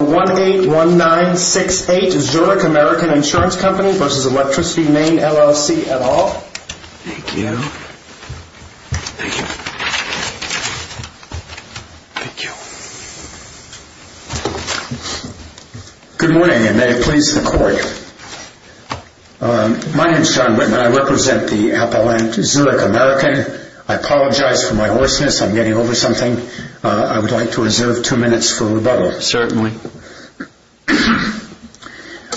181968 Zurich American Insurance Company v. Electricity Maine, LLC et al. Thank you. Thank you. Thank you. Good morning, and may it please the Court. My name's John Whitman. I represent the appellant Zurich American. I apologize for my hoarseness. I'm getting over something. I would like to reserve two minutes for rebuttal. Certainly.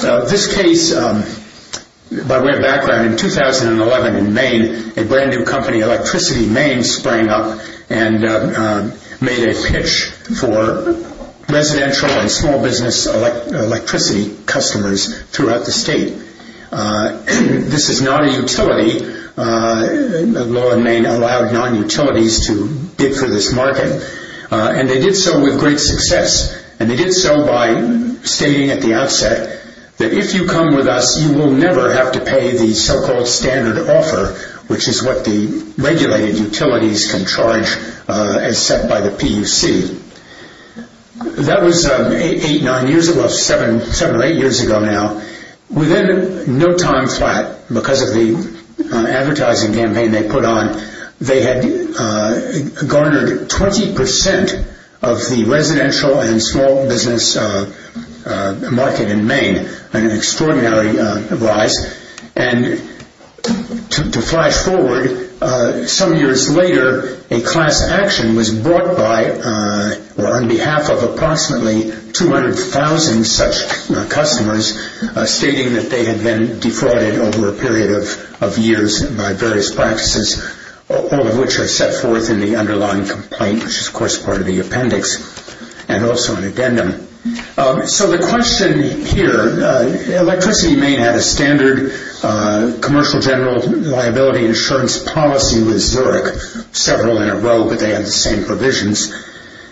This case, by way of background, in 2011 in Maine, a brand new company, Electricity Maine, sprang up and made a pitch for residential and small business electricity customers throughout the state. This is not a utility. The law in Maine allowed non-utilities to bid for this market, and they did so with great success. And they did so by stating at the outset that if you come with us, you will never have to pay the so-called standard offer, which is what the regulated utilities can charge as set by the PUC. That was seven or eight years ago now. Within no time flat, because of the advertising campaign they put on, they had garnered 20% of the residential and small business market in Maine, an extraordinary rise. And to flash forward, some years later, a class action was brought by, or on behalf of approximately 200,000 such customers, stating that they had been defrauded over a period of years by various practices, all of which are set forth in the underlying complaint, which is, of course, part of the appendix and also an addendum. So the question here, electricity in Maine had a standard commercial general liability insurance policy with Zurich, several in a row, but they had the same provisions.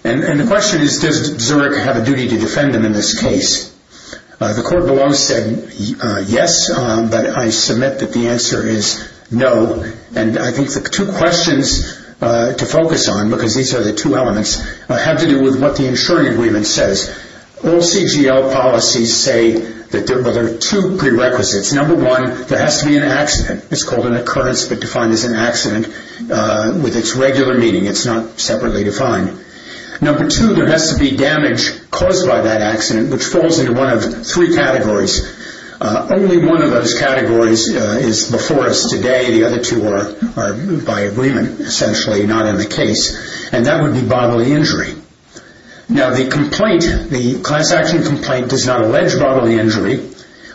And the question is, does Zurich have a duty to defend them in this case? The court below said yes, but I submit that the answer is no. And I think the two questions to focus on, because these are the two elements, have to do with what the insurance agreement says. All CGL policies say that there are two prerequisites. Number one, there has to be an accident. It's called an occurrence, but defined as an accident with its regular meaning. It's not separately defined. Number two, there has to be damage caused by that accident, which falls into one of three categories. Only one of those categories is before us today. The other two are by agreement, essentially not in the case. And that would be bodily injury. Now, the class action complaint does not allege bodily injury,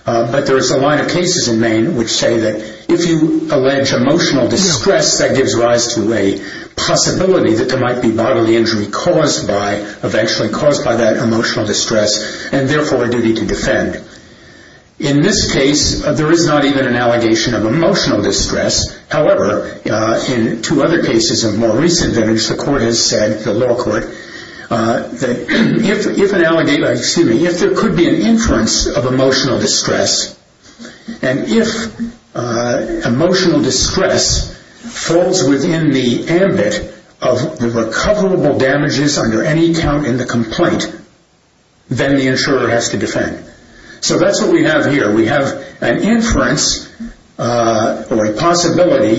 but there is a line of cases in Maine which say that if you allege emotional distress, that gives rise to a possibility that there might be bodily injury eventually caused by that emotional distress, and therefore a duty to defend. In this case, there is not even an allegation of emotional distress. However, in two other cases of more recent damage, the court has said, the law court, that if there could be an inference of emotional distress, and if emotional distress falls within the ambit of recoverable damages under any count in the complaint, then the insurer has to defend. So that's what we have here. We have an inference, or a possibility,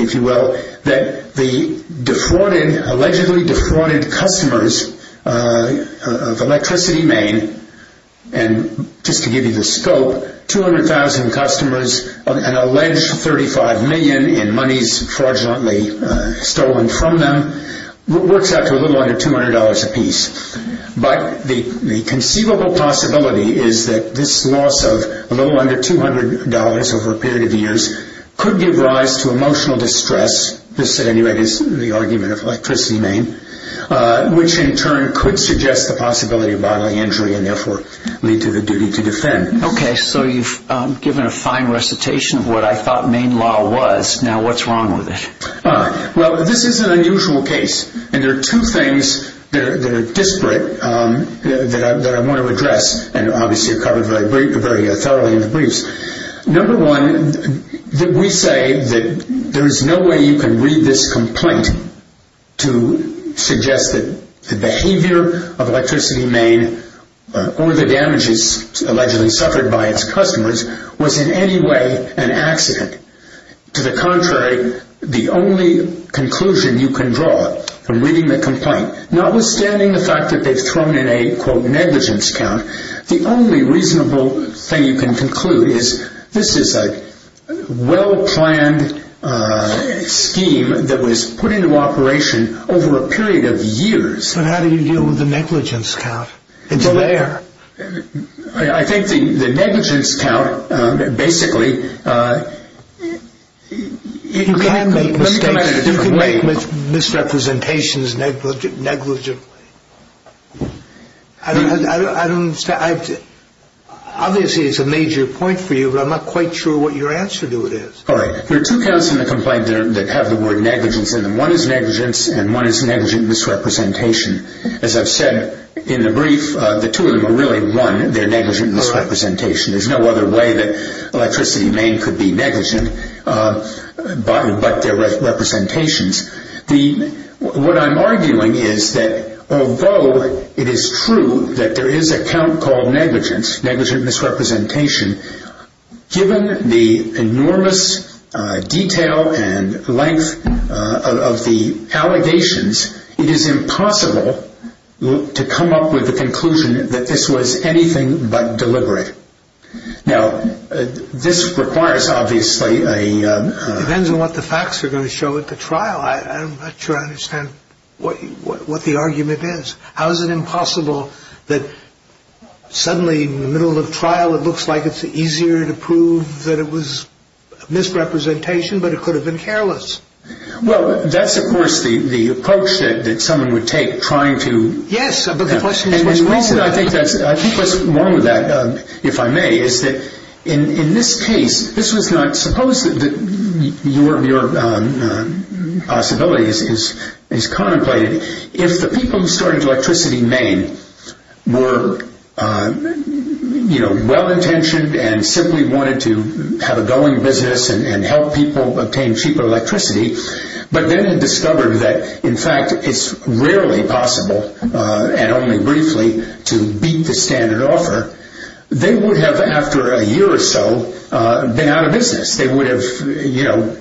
if you will, that the allegedly defrauded customers of Electricity Maine, and just to give you the scope, 200,000 customers, an alleged $35 million in monies fraudulently stolen from them, works out to a little under $200 a piece. But the conceivable possibility is that this loss of a little under $200 over a period of years could give rise to emotional distress, this at any rate is the argument of Electricity Maine, which in turn could suggest the possibility of bodily injury, and therefore lead to the duty to defend. Okay, so you've given a fine recitation of what I thought Maine law was, now what's wrong with it? Well, this is an unusual case, and there are two things that are disparate that I want to address, and obviously are covered very thoroughly in the briefs. Number one, we say that there is no way you can read this complaint to suggest that the behavior of Electricity Maine, or the damages allegedly suffered by its customers, was in any way an accident. To the contrary, the only conclusion you can draw from reading the complaint, notwithstanding the fact that they've thrown in a negligence count, the only reasonable thing you can conclude is this is a well-planned scheme that was put into operation over a period of years. But how do you deal with the negligence count? It's there. I think the negligence count, basically... You can't make mistakes. Let me come at it a different way. You can make misrepresentations negligently. I don't understand. Obviously, it's a major point for you, but I'm not quite sure what your answer to it is. All right. There are two counts in the complaint that have the word negligence in them. One is negligence, and one is negligent misrepresentation. As I've said in the brief, the two of them are really one. They're negligent misrepresentation. There's no other way that Electricity Maine could be negligent but their representations. What I'm arguing is that although it is true that there is a count called negligence, negligent misrepresentation, given the enormous detail and length of the allegations, it is impossible to come up with a conclusion that this was anything but deliberate. Now, this requires, obviously, a... It depends on what the facts are going to show at the trial. I'm not sure I understand what the argument is. How is it impossible that suddenly in the middle of the trial, it looks like it's easier to prove that it was misrepresentation, but it could have been careless? Well, that's, of course, the approach that someone would take trying to... Yes, but the question is what's wrong with it. I think what's wrong with that, if I may, is that in this case, suppose that your possibility is contemplated. If the people who started Electricity Maine were well-intentioned and simply wanted to have a going business and help people obtain cheaper electricity, but then had discovered that, in fact, it's rarely possible, and only briefly, to beat the standard offer, they would have, after a year or so, been out of business. They would have, you know,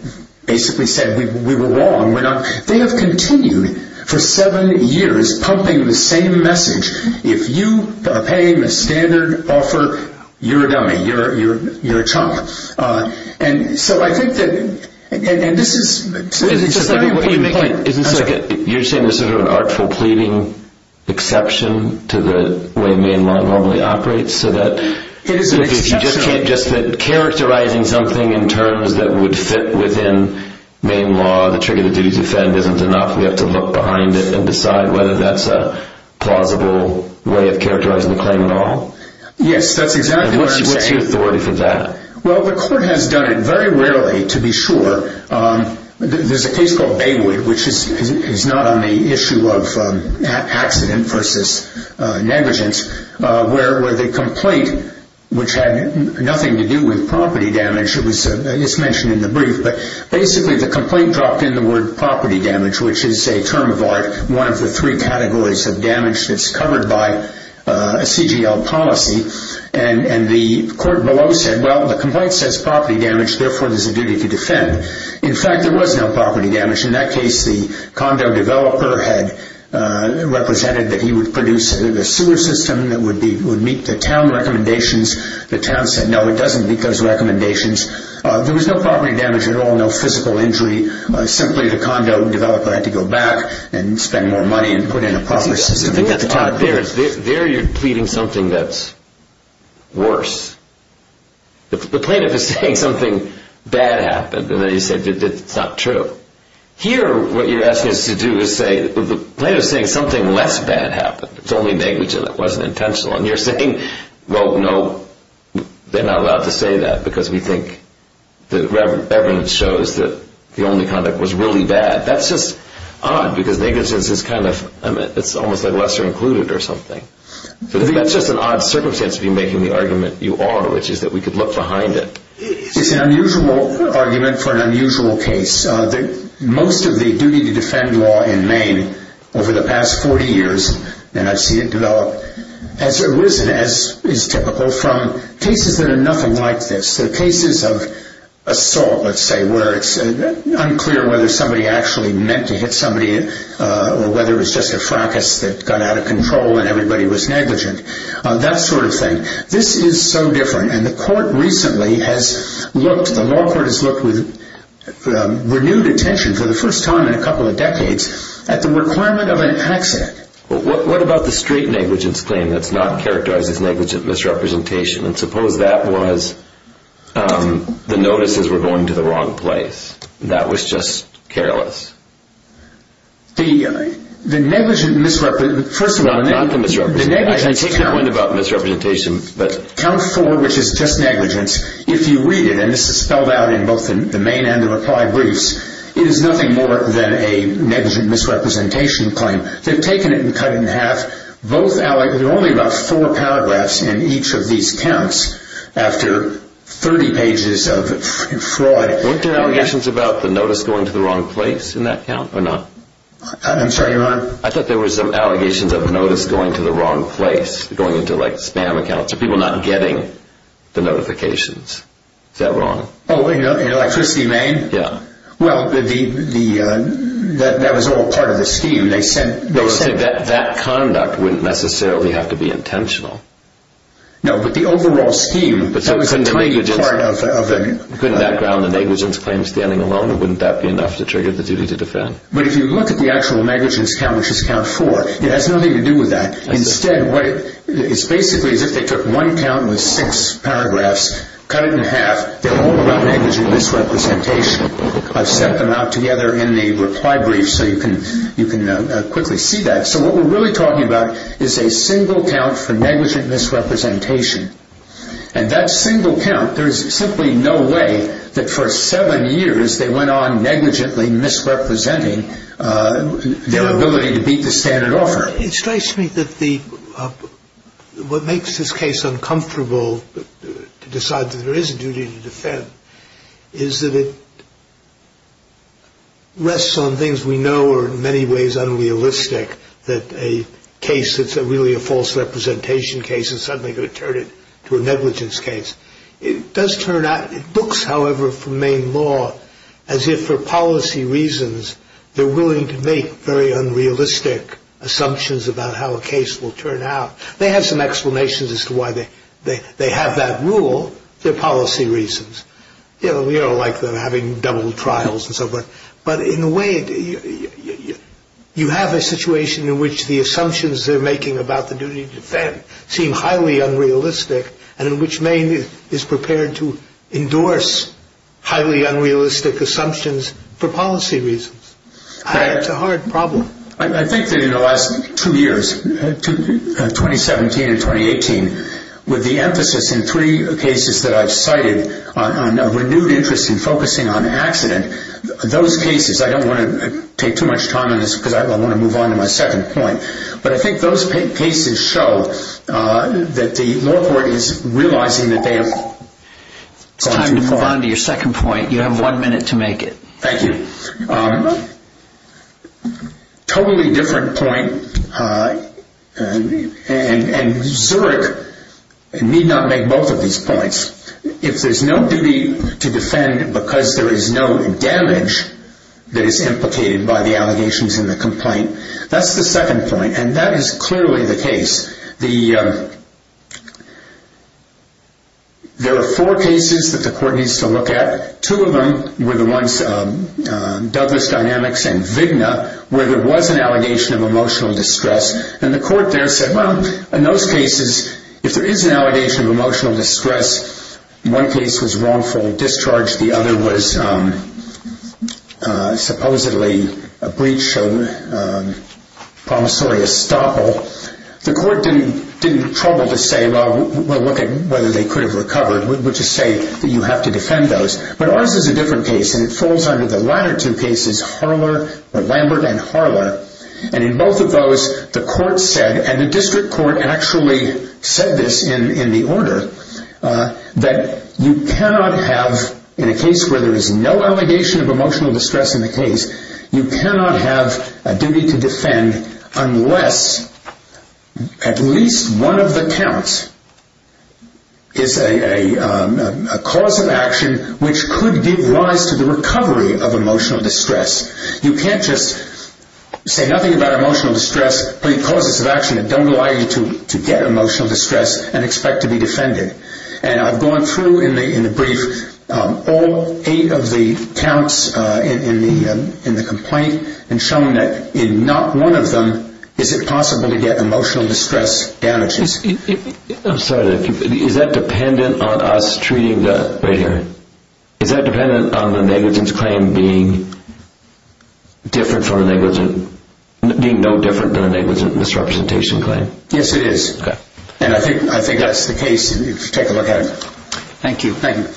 basically said we were wrong. They have continued for seven years pumping the same message. If you are paying the standard offer, you're a dummy. You're a chump. And so I think that, and this is... Wait a second. What you're making... I'm sorry. You're saying there's sort of an artful pleading exception to the way Maine law normally operates, so that... It is an exception. If you just keep characterizing something in terms that would fit within Maine law, the trigger that you defend isn't enough. We have to look behind it and decide whether that's a plausible way of characterizing the claim at all? Yes, that's exactly what I'm saying. And what's your authority for that? Well, the court has done it very rarely, to be sure. There's a case called Baywood, which is not on the issue of accident versus negligence, where the complaint, which had nothing to do with property damage, it's mentioned in the brief, but basically the complaint dropped in the word property damage, which is a term of art, one of the three categories of damage that's covered by a CGL policy. And the court below said, well, the complaint says property damage, therefore there's a duty to defend. In fact, there was no property damage. In that case, the condo developer had represented that he would produce a sewer system that would meet the town recommendations. The town said, no, it doesn't meet those recommendations. There was no property damage at all, no physical injury. Simply, the condo developer had to go back and spend more money and put in a proper system. The thing that's odd there is there you're pleading something that's worse. The plaintiff is saying something bad happened, and then you say it's not true. Here, what you're asking us to do is say the plaintiff is saying something less bad happened. It's only negligence. It wasn't intentional. And you're saying, well, no, they're not allowed to say that because we think the evidence shows that the only conduct was really bad. That's just odd because negligence is almost like lesser included or something. I think that's just an odd circumstance of you making the argument you are, which is that we could look behind it. It's an unusual argument for an unusual case. Most of the duty to defend law in Maine over the past 40 years, and I've seen it develop as it was and as is typical from cases that are nothing like this, the cases of assault, let's say, where it's unclear whether somebody actually meant to hit somebody or whether it was just a fracas that got out of control and everybody was negligent, that sort of thing. This is so different, and the court recently has looked, the law court has looked with renewed attention for the first time in a couple of decades at the requirement of an accident. What about the straight negligence claim that's not characterized as negligent misrepresentation? And suppose that was the notices were going to the wrong place. That was just careless. The negligent misrepresentation, first of all... Not the misrepresentation. I take your point about misrepresentation, but... Count four, which is just negligence, if you read it, and this is spelled out in both the main and the reply briefs, it is nothing more than a negligent misrepresentation claim. They've taken it and cut it in half. There are only about four paragraphs in each of these counts after 30 pages of fraud. Weren't there allegations about the notice going to the wrong place in that count or not? I'm sorry, Your Honor? I thought there were some allegations of the notice going to the wrong place, going into, like, spam accounts or people not getting the notifications. Is that wrong? Oh, electricity main? Yeah. Well, that was all part of the scheme. They said that conduct wouldn't necessarily have to be intentional. No, but the overall scheme... But couldn't that ground a negligence claim standing alone? Wouldn't that be enough to trigger the duty to defend? But if you look at the actual negligence count, which is count four, it has nothing to do with that. Instead, it's basically as if they took one count with six paragraphs, cut it in half. They're all about negligent misrepresentation. I've set them out together in the reply brief so you can quickly see that. So what we're really talking about is a single count for negligent misrepresentation. And that single count, there is simply no way that for seven years they went on negligently misrepresenting their ability to beat the standard offer. It strikes me that what makes this case uncomfortable, to decide that there is a duty to defend, is that it rests on things we know are in many ways unrealistic, that a case that's really a false representation case is suddenly going to turn into a negligence case. It does turn out, it looks, however, for Maine law as if for policy reasons, they're willing to make very unrealistic assumptions about how a case will turn out. They have some explanations as to why they have that rule. They're policy reasons. You know, we all like having double trials and so forth. But in a way, you have a situation in which the assumptions they're making about the duty to defend seem highly unrealistic and in which Maine is prepared to endorse highly unrealistic assumptions for policy reasons. It's a hard problem. I think that in the last two years, 2017 and 2018, with the emphasis in three cases that I've cited on a renewed interest in focusing on accident, those cases, I don't want to take too much time on this because I want to move on to my second point, but I think those cases show that the law court is realizing that they have gone too far. It's time to move on to your second point. You have one minute to make it. Thank you. Totally different point, and Zurich need not make both of these points. If there's no duty to defend because there is no damage that is implicated by the allegations in the complaint, that's the second point, and that is clearly the case. There are four cases that the court needs to look at. Two of them were the ones, Douglas Dynamics and Vigna, where there was an allegation of emotional distress, and the court there said, well, in those cases, if there is an allegation of emotional distress, one case was wrongful discharge, the other was supposedly a breach of promissory estoppel, the court didn't trouble to say, well, we'll look at whether they could have recovered. We'll just say that you have to defend those. But ours is a different case, and it falls under the latter two cases, Lambert and Harler, and in both of those, the court said, and the district court actually said this in the order, that you cannot have, in a case where there is no allegation of emotional distress in the case, you cannot have a duty to defend unless at least one of the counts is a cause of action which could give rise to the recovery of emotional distress. You can't just say nothing about emotional distress, put in causes of action that don't allow you to get emotional distress and expect to be defended. And I've gone through in the brief all eight of the counts in the complaint and shown that in not one of them is it possible to get emotional distress damages. I'm sorry, is that dependent on us treating the, right here, is that dependent on the negligence claim being different from a negligent, being no different than a negligent misrepresentation claim? Yes, it is. Okay. And I think that's the case if you take a look at it. Thank you. Thank you.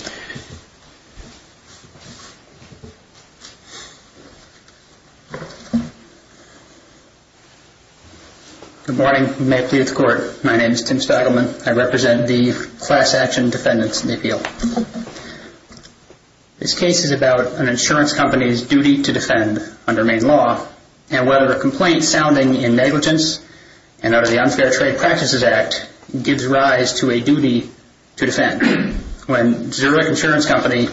Good morning. May it please the Court. My name is Tim Spagelman. I represent the Class Action Defendants in the appeal. This case is about an insurance company's duty to defend under Maine law and whether a complaint sounding in negligence and out of the Unfair Trade Practices Act gives rise to a duty to defend. When Zurich Insurance Company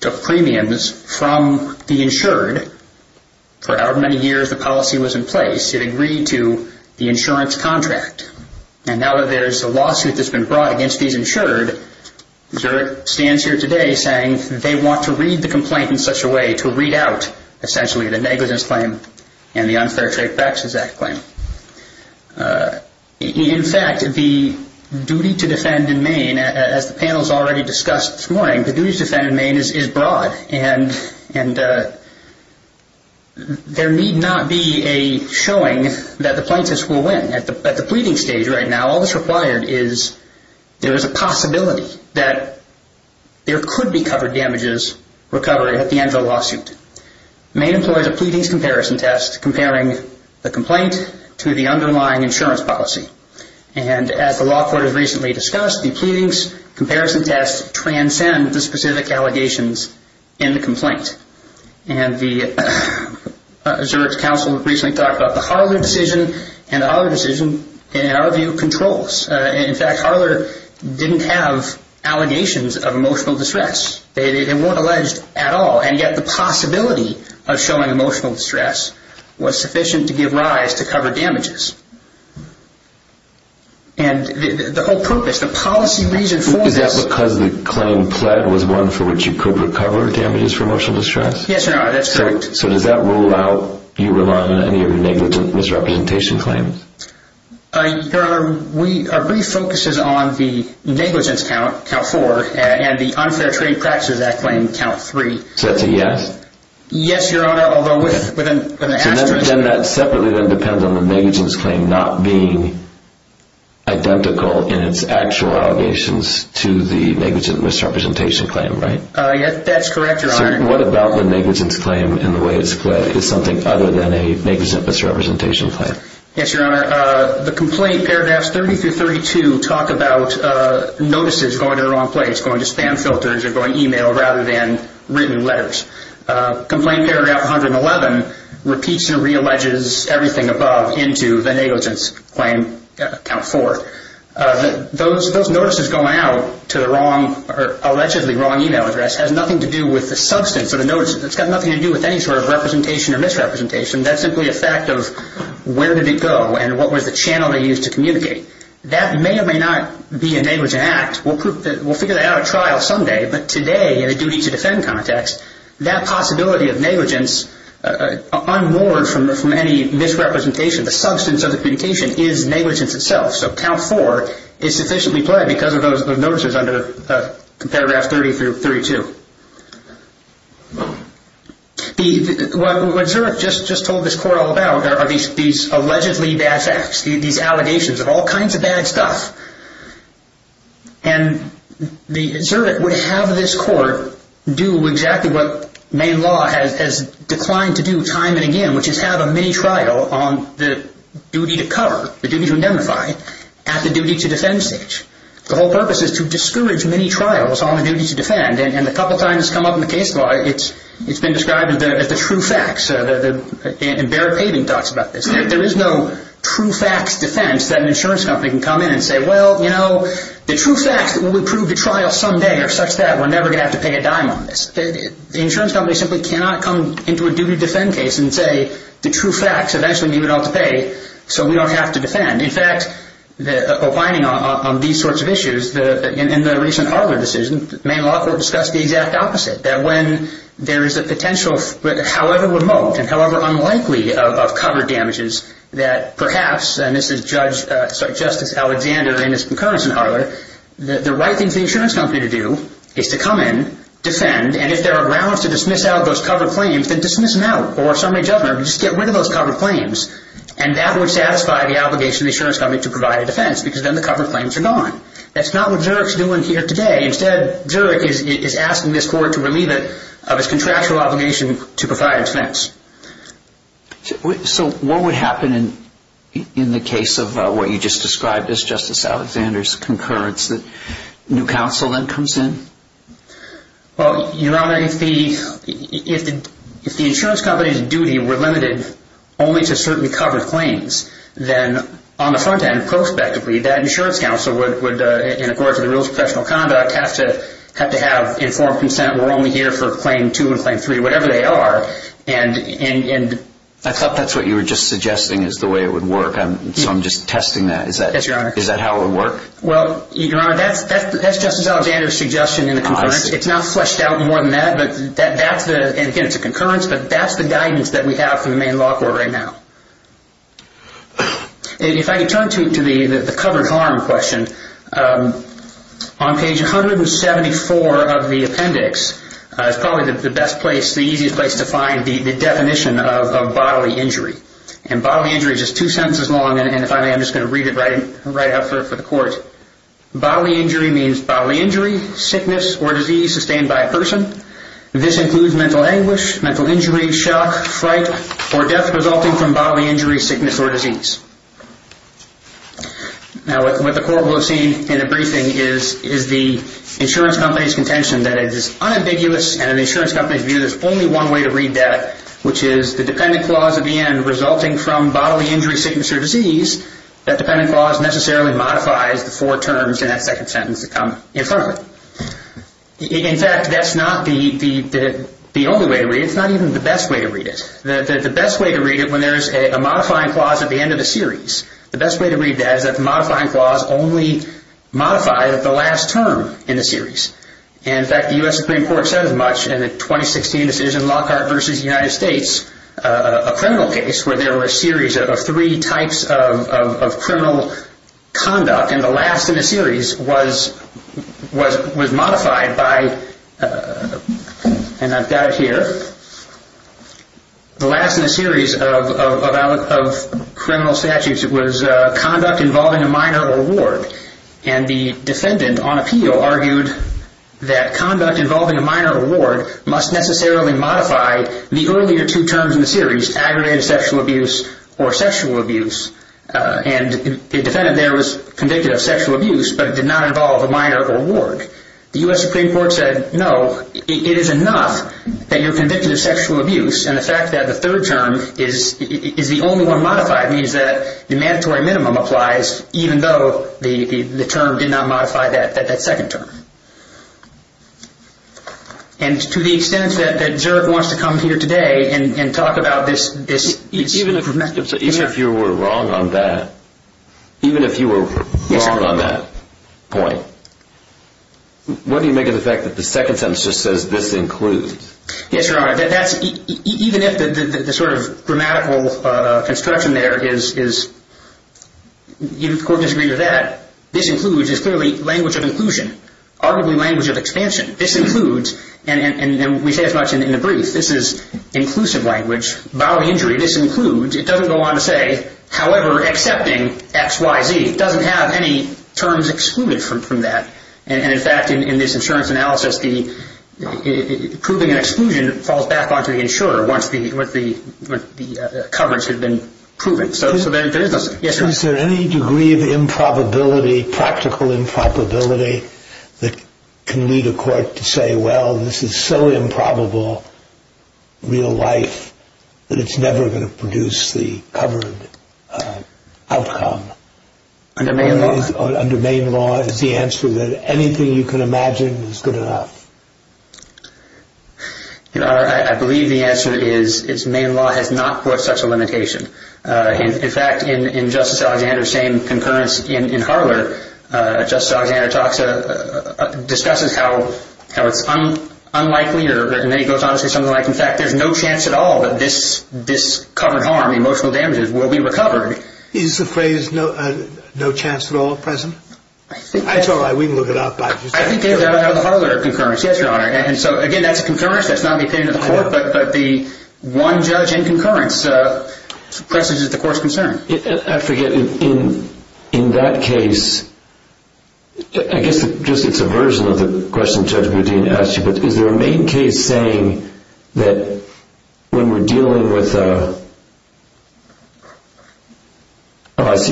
took premiums from the insured, for however many years the policy was in place, it agreed to the insurance contract. And now that there's a lawsuit that's been brought against these insured, Zurich stands here today saying they want to read the complaint in such a way to read out essentially the negligence claim and the Unfair Trade Practices Act claim. In fact, the duty to defend in Maine, as the panel's already discussed this morning, the duty to defend in Maine is broad. And there need not be a showing that the plaintiffs will win. At the pleading stage right now, all that's required is there is a possibility that there could be covered damages recovered at the end of the lawsuit. Maine employs a pleadings comparison test comparing the complaint to the underlying insurance policy. And as the law court has recently discussed, the pleadings comparison test transcends the specific allegations in the complaint. And the Zurich Council recently talked about the Harler decision, and the Harler decision, in our view, controls. In fact, Harler didn't have allegations of emotional distress. They weren't alleged at all, and yet the possibility of showing emotional distress was sufficient to give rise to covered damages. And the whole purpose, the policy reason for this... Is that because the claim pled was one for which you could recover damages for emotional distress? Yes, Your Honor, that's correct. So does that rule out you relying on any of your negligent misrepresentation claims? Your Honor, our brief focuses on the negligence count, count four, and the unfair trade practices that claim, count three. So that's a yes? Yes, Your Honor, although within the asterisk... So then that separately then depends on the negligence claim not being identical in its actual allegations to the negligent misrepresentation claim, right? That's correct, Your Honor. So what about the negligence claim in the way it's claimed? Is something other than a negligent misrepresentation claim? Yes, Your Honor. The complaint paragraphs 30 through 32 talk about notices going to the wrong place, going to spam filters or going email rather than written letters. Complaint paragraph 111 repeats and re-alleges everything above into the negligence claim, count four. Those notices going out to the wrong or allegedly wrong email address has nothing to do with the substance of the notice. It's got nothing to do with any sort of representation or misrepresentation. That's simply a fact of where did it go and what was the channel they used to communicate. That may or may not be a negligent act. We'll figure that out at trial someday, but today in a duty-to-defend context, that possibility of negligence unmoored from any misrepresentation, the substance of the communication, is negligence itself. So count four is sufficiently played because of those notices under paragraph 30 through 32. What Zurich just told this court all about are these allegedly bad facts, these allegations of all kinds of bad stuff. And Zurich would have this court do exactly what Maine law has declined to do time and again, which is have a mini-trial on the duty to cover, the duty to indemnify, at the duty-to-defend stage. The whole purpose is to discourage mini-trials on the duty to defend and a couple times it's come up in the case law, it's been described as the true facts. And Baird Pavin talks about this. There is no true facts defense that an insurance company can come in and say, well, you know, the true facts that we'll approve the trial someday are such that we're never going to have to pay a dime on this. The insurance company simply cannot come into a duty-to-defend case and say, the true facts eventually leave it all to pay so we don't have to defend. In fact, opining on these sorts of issues in the recent Arler decision, Maine law court discussed the exact opposite, that when there is a potential, however remote and however unlikely of cover damages, that perhaps, and this is Justice Alexander in his concurrence in Arler, that the right thing for the insurance company to do is to come in, defend, and if there are grounds to dismiss out those cover claims, then dismiss them out or if somebody judges them, just get rid of those cover claims. And that would satisfy the obligation of the insurance company to provide a defense because then the cover claims are gone. That's not what Zurich is doing here today. Instead, Zurich is asking this court to relieve it of its contractual obligation to provide defense. So what would happen in the case of what you just described as Justice Alexander's concurrence that new counsel then comes in? Well, Your Honor, if the insurance company's duty were limited only to certainly cover claims, then on the front end, prospectively, that insurance counsel would, in accordance with the rules of professional conduct, have to have informed consent. We're only here for claim two and claim three, whatever they are. I thought that's what you were just suggesting is the way it would work. So I'm just testing that. Is that how it would work? Well, Your Honor, that's Justice Alexander's suggestion in the concurrence. It's not fleshed out more than that. Again, it's a concurrence, but that's the guidance that we have from the main law court right now. If I can turn to the covered harm question, on page 174 of the appendix is probably the best place, the easiest place to find the definition of bodily injury. And bodily injury is just two sentences long, and if I may, I'm just going to read it right out for the court. Bodily injury means bodily injury, sickness, or disease sustained by a person. This includes mental anguish, mental injury, shock, fright, or death resulting from bodily injury, sickness, or disease. Now, what the court will have seen in a briefing is the insurance company's contention that it is unambiguous, and an insurance company's view that there's only one way to read that, which is the dependent clause at the end, resulting from bodily injury, sickness, or disease, that dependent clause necessarily modifies the four terms in that second sentence that come in front of it. In fact, that's not the only way to read it. It's not even the best way to read it. The best way to read it, when there's a modifying clause at the end of the series, the best way to read that is that the modifying clause only modifies the last term in the series. In fact, the U.S. Supreme Court said as much in the 2016 decision Lockhart v. United States, a criminal case where there were a series of three types of criminal conduct, and the last in the series was modified by, and I've got it here, the last in the series of criminal statutes was conduct involving a minor or ward, and the defendant on appeal argued that conduct involving a minor or ward must necessarily modify the earlier two terms in the series, aggravated sexual abuse or sexual abuse. And the defendant there was convicted of sexual abuse, but it did not involve a minor or ward. The U.S. Supreme Court said, no, it is enough that you're convicted of sexual abuse, and the fact that the third term is the only one modified means that the mandatory minimum applies, even though the term did not modify that second term. And to the extent that Zurich wants to come here today and talk about this... Even if you were wrong on that, even if you were wrong on that point, what do you make of the fact that the second sentence just says, this includes? Yes, Your Honor, even if the sort of grammatical construction there is, even if the court disagreed with that, this includes is clearly language of inclusion, arguably language of expansion. This includes, and we say as much in the brief, this is inclusive language. Boundary injury, this includes. It doesn't go on to say, however, accepting X, Y, Z. It doesn't have any terms excluded from that. And, in fact, in this insurance analysis, proving an exclusion falls back onto the insurer once the coverage has been proven. So there is no such thing. Is there any degree of improbability, practical improbability, that can lead a court to say, well, this is so improbable real life that it's never going to produce the covered outcome? Under Maine law. Under Maine law, is the answer that anything you can imagine is good enough? Your Honor, I believe the answer is Maine law has not put such a limitation. In fact, in Justice Alexander's same concurrence in Harler, Justice Alexander discusses how it's unlikely or goes on to say something like, in fact, there's no chance at all that this covered harm, emotional damages, will be recovered. Is the phrase no chance at all present? That's all right. We can look it up. I think that's out of the Harler concurrence. Yes, Your Honor. And so, again, that's a concurrence. That's not in the opinion of the court. But the one judge in concurrence presages the court's concern. I forget. In that case, I guess just it's a version of the question Judge Boudin asked you, but is there a Maine case saying that when we're dealing with a,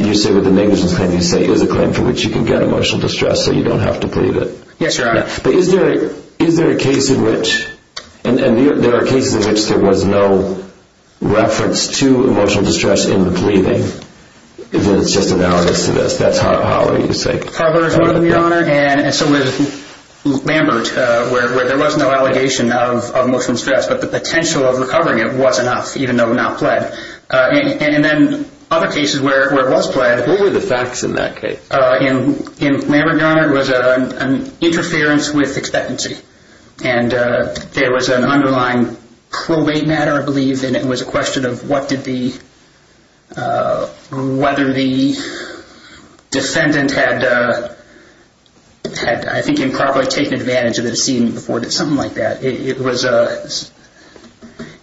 you say with a negligence claim, you say it's a claim for which you can get emotional distress so you don't have to plead it. Yes, Your Honor. But is there a case in which, and there are cases in which there was no reference to emotional distress in the pleading. It's just analogous to this. That's how you say it. Harler is one of them, Your Honor. And so with Lambert, where there was no allegation of emotional distress, but the potential of recovering it was enough, even though not pled. And then other cases where it was pled. What were the facts in that case? In Lambert, Your Honor, it was an interference with expectancy. And there was an underlying probate matter, I believe, and it was a question of whether the defendant had, I think, improperly taken advantage of the decedent before or something like that.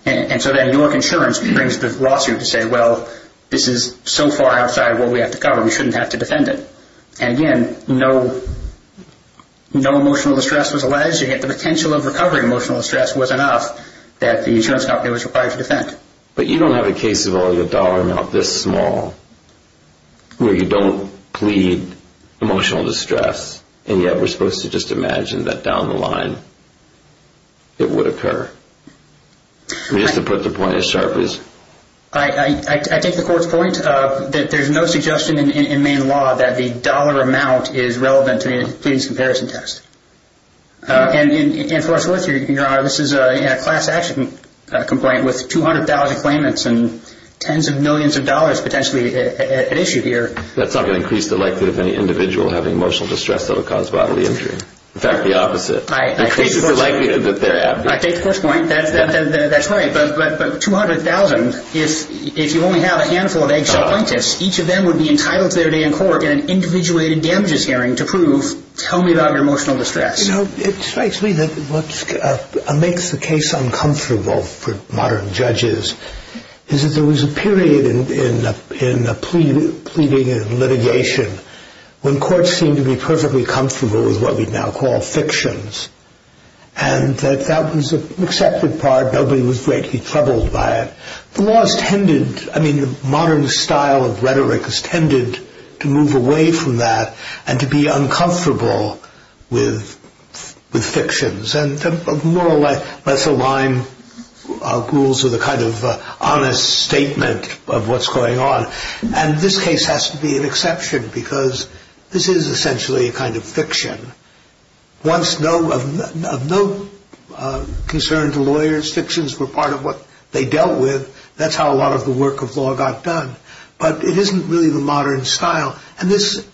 And so then York Insurance brings the lawsuit to say, well, this is so far outside what we have to cover, we shouldn't have to defend it. And, again, no emotional distress was alleged, yet the potential of recovering emotional distress was enough that the insurance company was required to defend. But you don't have a case involving a dollar amount this small where you don't plead emotional distress, and yet we're supposed to just imagine that down the line it would occur. Just to put the point as sharp as... I take the court's point that there's no suggestion in main law that the dollar amount is relevant to a pleading comparison test. And, of course, Your Honor, this is a class action complaint with 200,000 claimants and tens of millions of dollars potentially at issue here. That's not going to increase the likelihood of any individual having emotional distress that will cause bodily injury. In fact, the opposite. I take the court's point. That's right. But 200,000, if you only have a handful of ex-appointees, each of them would be entitled to their day in court in an individuated damages hearing to prove, tell me about your emotional distress. You know, it strikes me that what makes the case uncomfortable for modern judges is that there was a period in the pleading and litigation when courts seemed to be perfectly comfortable with what we now call fictions. And that that was an accepted part. Nobody was greatly troubled by it. The modern style of rhetoric has tended to move away from that and to be uncomfortable with fictions. And the more or less aligned rules are the kind of honest statement of what's going on. And this case has to be an exception because this is essentially a kind of fiction. Once no concern to lawyers, fictions were part of what they dealt with, that's how a lot of the work of law got done. But it isn't really the modern style. And this,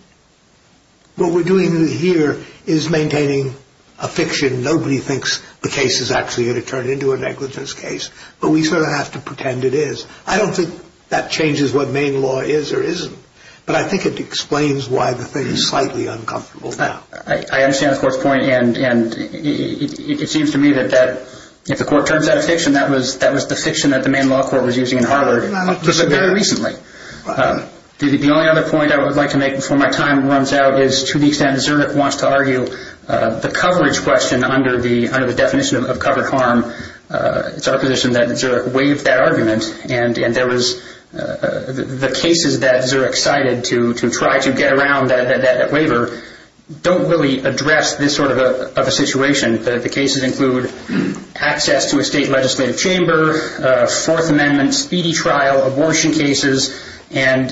what we're doing here is maintaining a fiction. Nobody thinks the case is actually going to turn into a negligence case, but we sort of have to pretend it is. I don't think that changes what main law is or isn't, but I think it explains why the thing is slightly uncomfortable now. I understand the Court's point, and it seems to me that if the Court turns out a fiction, that was the fiction that the main law court was using in Harvard just very recently. The only other point I would like to make before my time runs out is to the extent Zurich wants to argue the coverage question under the definition of covered harm, it's our position that Zurich waived that argument, and the cases that Zurich cited to try to get around that waiver don't really address this sort of a situation. The cases include access to a state legislative chamber, Fourth Amendment, speedy trial, abortion cases, and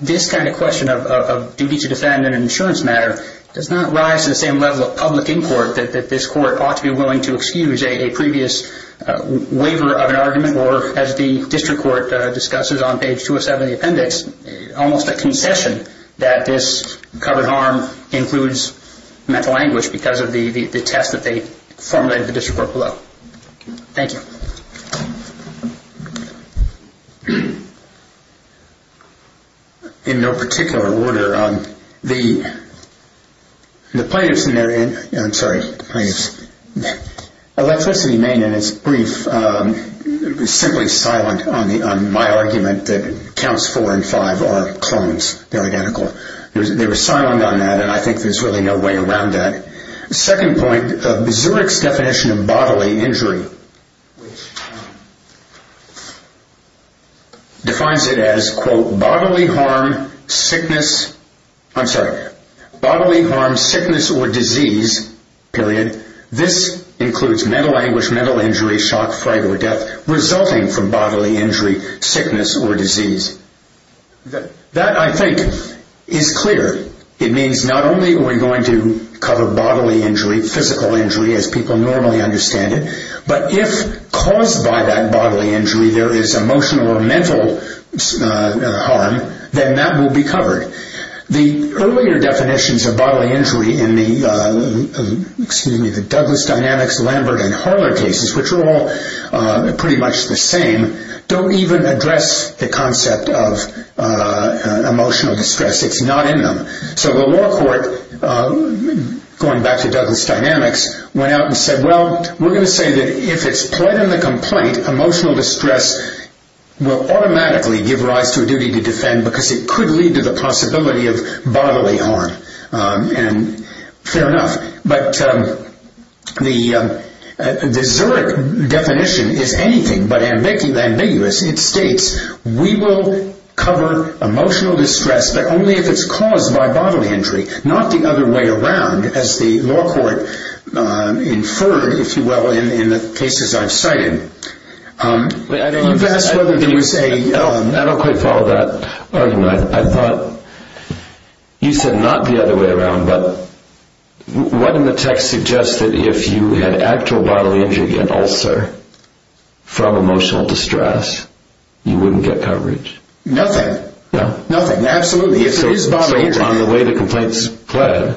this kind of question of duty to defend in an insurance matter does not rise to the same level of public import that this Court ought to be willing to excuse a previous waiver of an argument or, as the District Court discusses on page 207 of the appendix, almost a concession that this covered harm includes mental anguish because of the test that they formulated at the District Court below. Thank you. In no particular order, the plaintiff's scenario, I'm sorry, Electricity Maine in its brief was simply silent on my argument that counts four and five are clones, they're identical. They were silent on that, and I think there's really no way around that. The second point, Zurich's definition of bodily injury which defines it as, quote, bodily harm, sickness, I'm sorry, bodily harm, sickness, or disease, period, this includes mental anguish, mental injury, shock, fright, or death resulting from bodily injury, sickness, or disease. That, I think, is clear. It means not only are we going to cover bodily injury, physical injury as people normally understand it, but if caused by that bodily injury there is emotional or mental harm, then that will be covered. The earlier definitions of bodily injury in the, excuse me, the Douglas Dynamics, Lambert, and Harler cases, which are all pretty much the same, don't even address the concept of emotional distress. It's not in them. So the law court, going back to Douglas Dynamics, went out and said, well, we're going to say that if it's pled in the complaint, emotional distress will automatically give rise to a duty to defend because it could lead to the possibility of bodily harm, and fair enough. But the Zurich definition is anything but ambiguous. It states we will cover emotional distress, but only if it's caused by bodily injury, not the other way around as the law court inferred, if you will, in the cases I've cited. You've asked whether there was a... I don't quite follow that argument. I thought you said not the other way around, but what in the text suggests that if you had actual bodily injury and ulcer from emotional distress you wouldn't get coverage? Nothing. Nothing, absolutely. If it is bodily injury... So on the way the complaint's pled,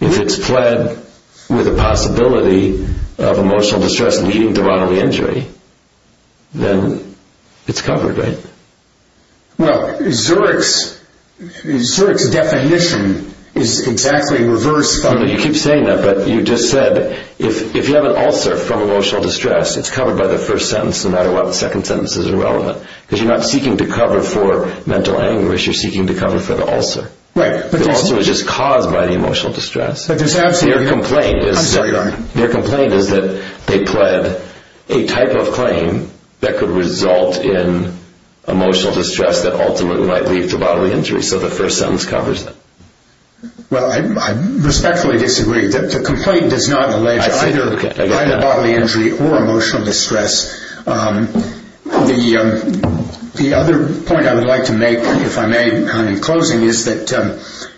if it's pled with a possibility of emotional distress leading to bodily injury, then it's covered, right? Well, Zurich's definition is exactly reversed. You keep saying that, but you just said if you have an ulcer from emotional distress, it's covered by the first sentence no matter what. The second sentence is irrelevant because you're not seeking to cover for mental anguish. You're seeking to cover for the ulcer. The ulcer is just caused by the emotional distress. Their complaint is that they pled a type of claim that could result in emotional distress that ultimately might lead to bodily injury, so the first sentence covers that. Well, I respectfully disagree. The complaint does not allege either bodily injury or emotional distress. The other point I would like to make, if I may, in closing, is that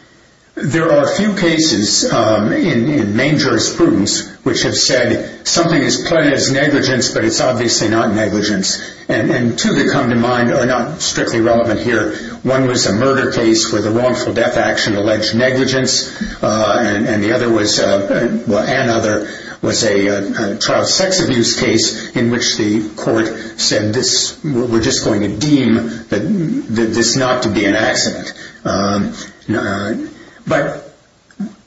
there are a few cases in main jurisprudence which have said something is pled as negligence, but it's obviously not negligence, and two that come to mind are not strictly relevant here. One was a murder case where the wrongful death action alleged negligence, and the other was a child sex abuse case in which the court said we're just going to deem this not to be an accident. But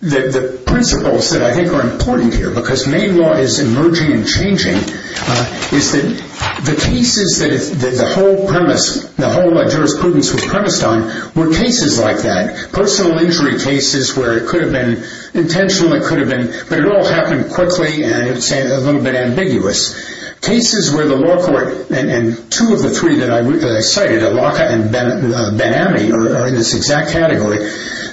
the principles that I think are important here, because main law is emerging and changing, is that the cases that the whole jurisprudence was premised on were cases like that. Cases where it could have been intentional, it could have been, but it all happened quickly and it's a little bit ambiguous. Cases where the law court, and two of the three that I cited, Elaka and Ben-Ami are in this exact category,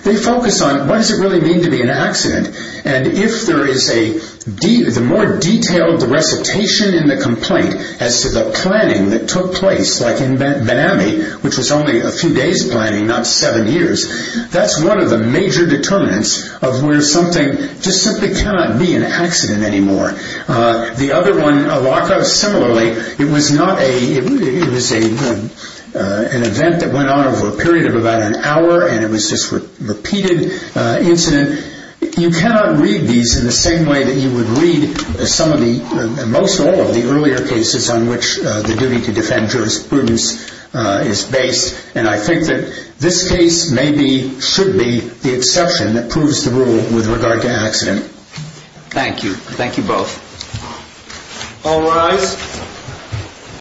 they focus on what does it really mean to be an accident, and if there is a more detailed recitation in the complaint as to the planning that took place, like in Ben-Ami, which was only a few days planning, not seven years, that's one of the major determinants of where something just simply cannot be an accident anymore. The other one, Elaka, similarly, it was an event that went on over a period of about an hour, and it was this repeated incident. You cannot read these in the same way that you would read some of the, most all of the earlier cases on which the duty to defend jurisprudence is based, and I think that this case maybe should be the exception that proves the rule with regard to accident. Thank you. Thank you both. All rise.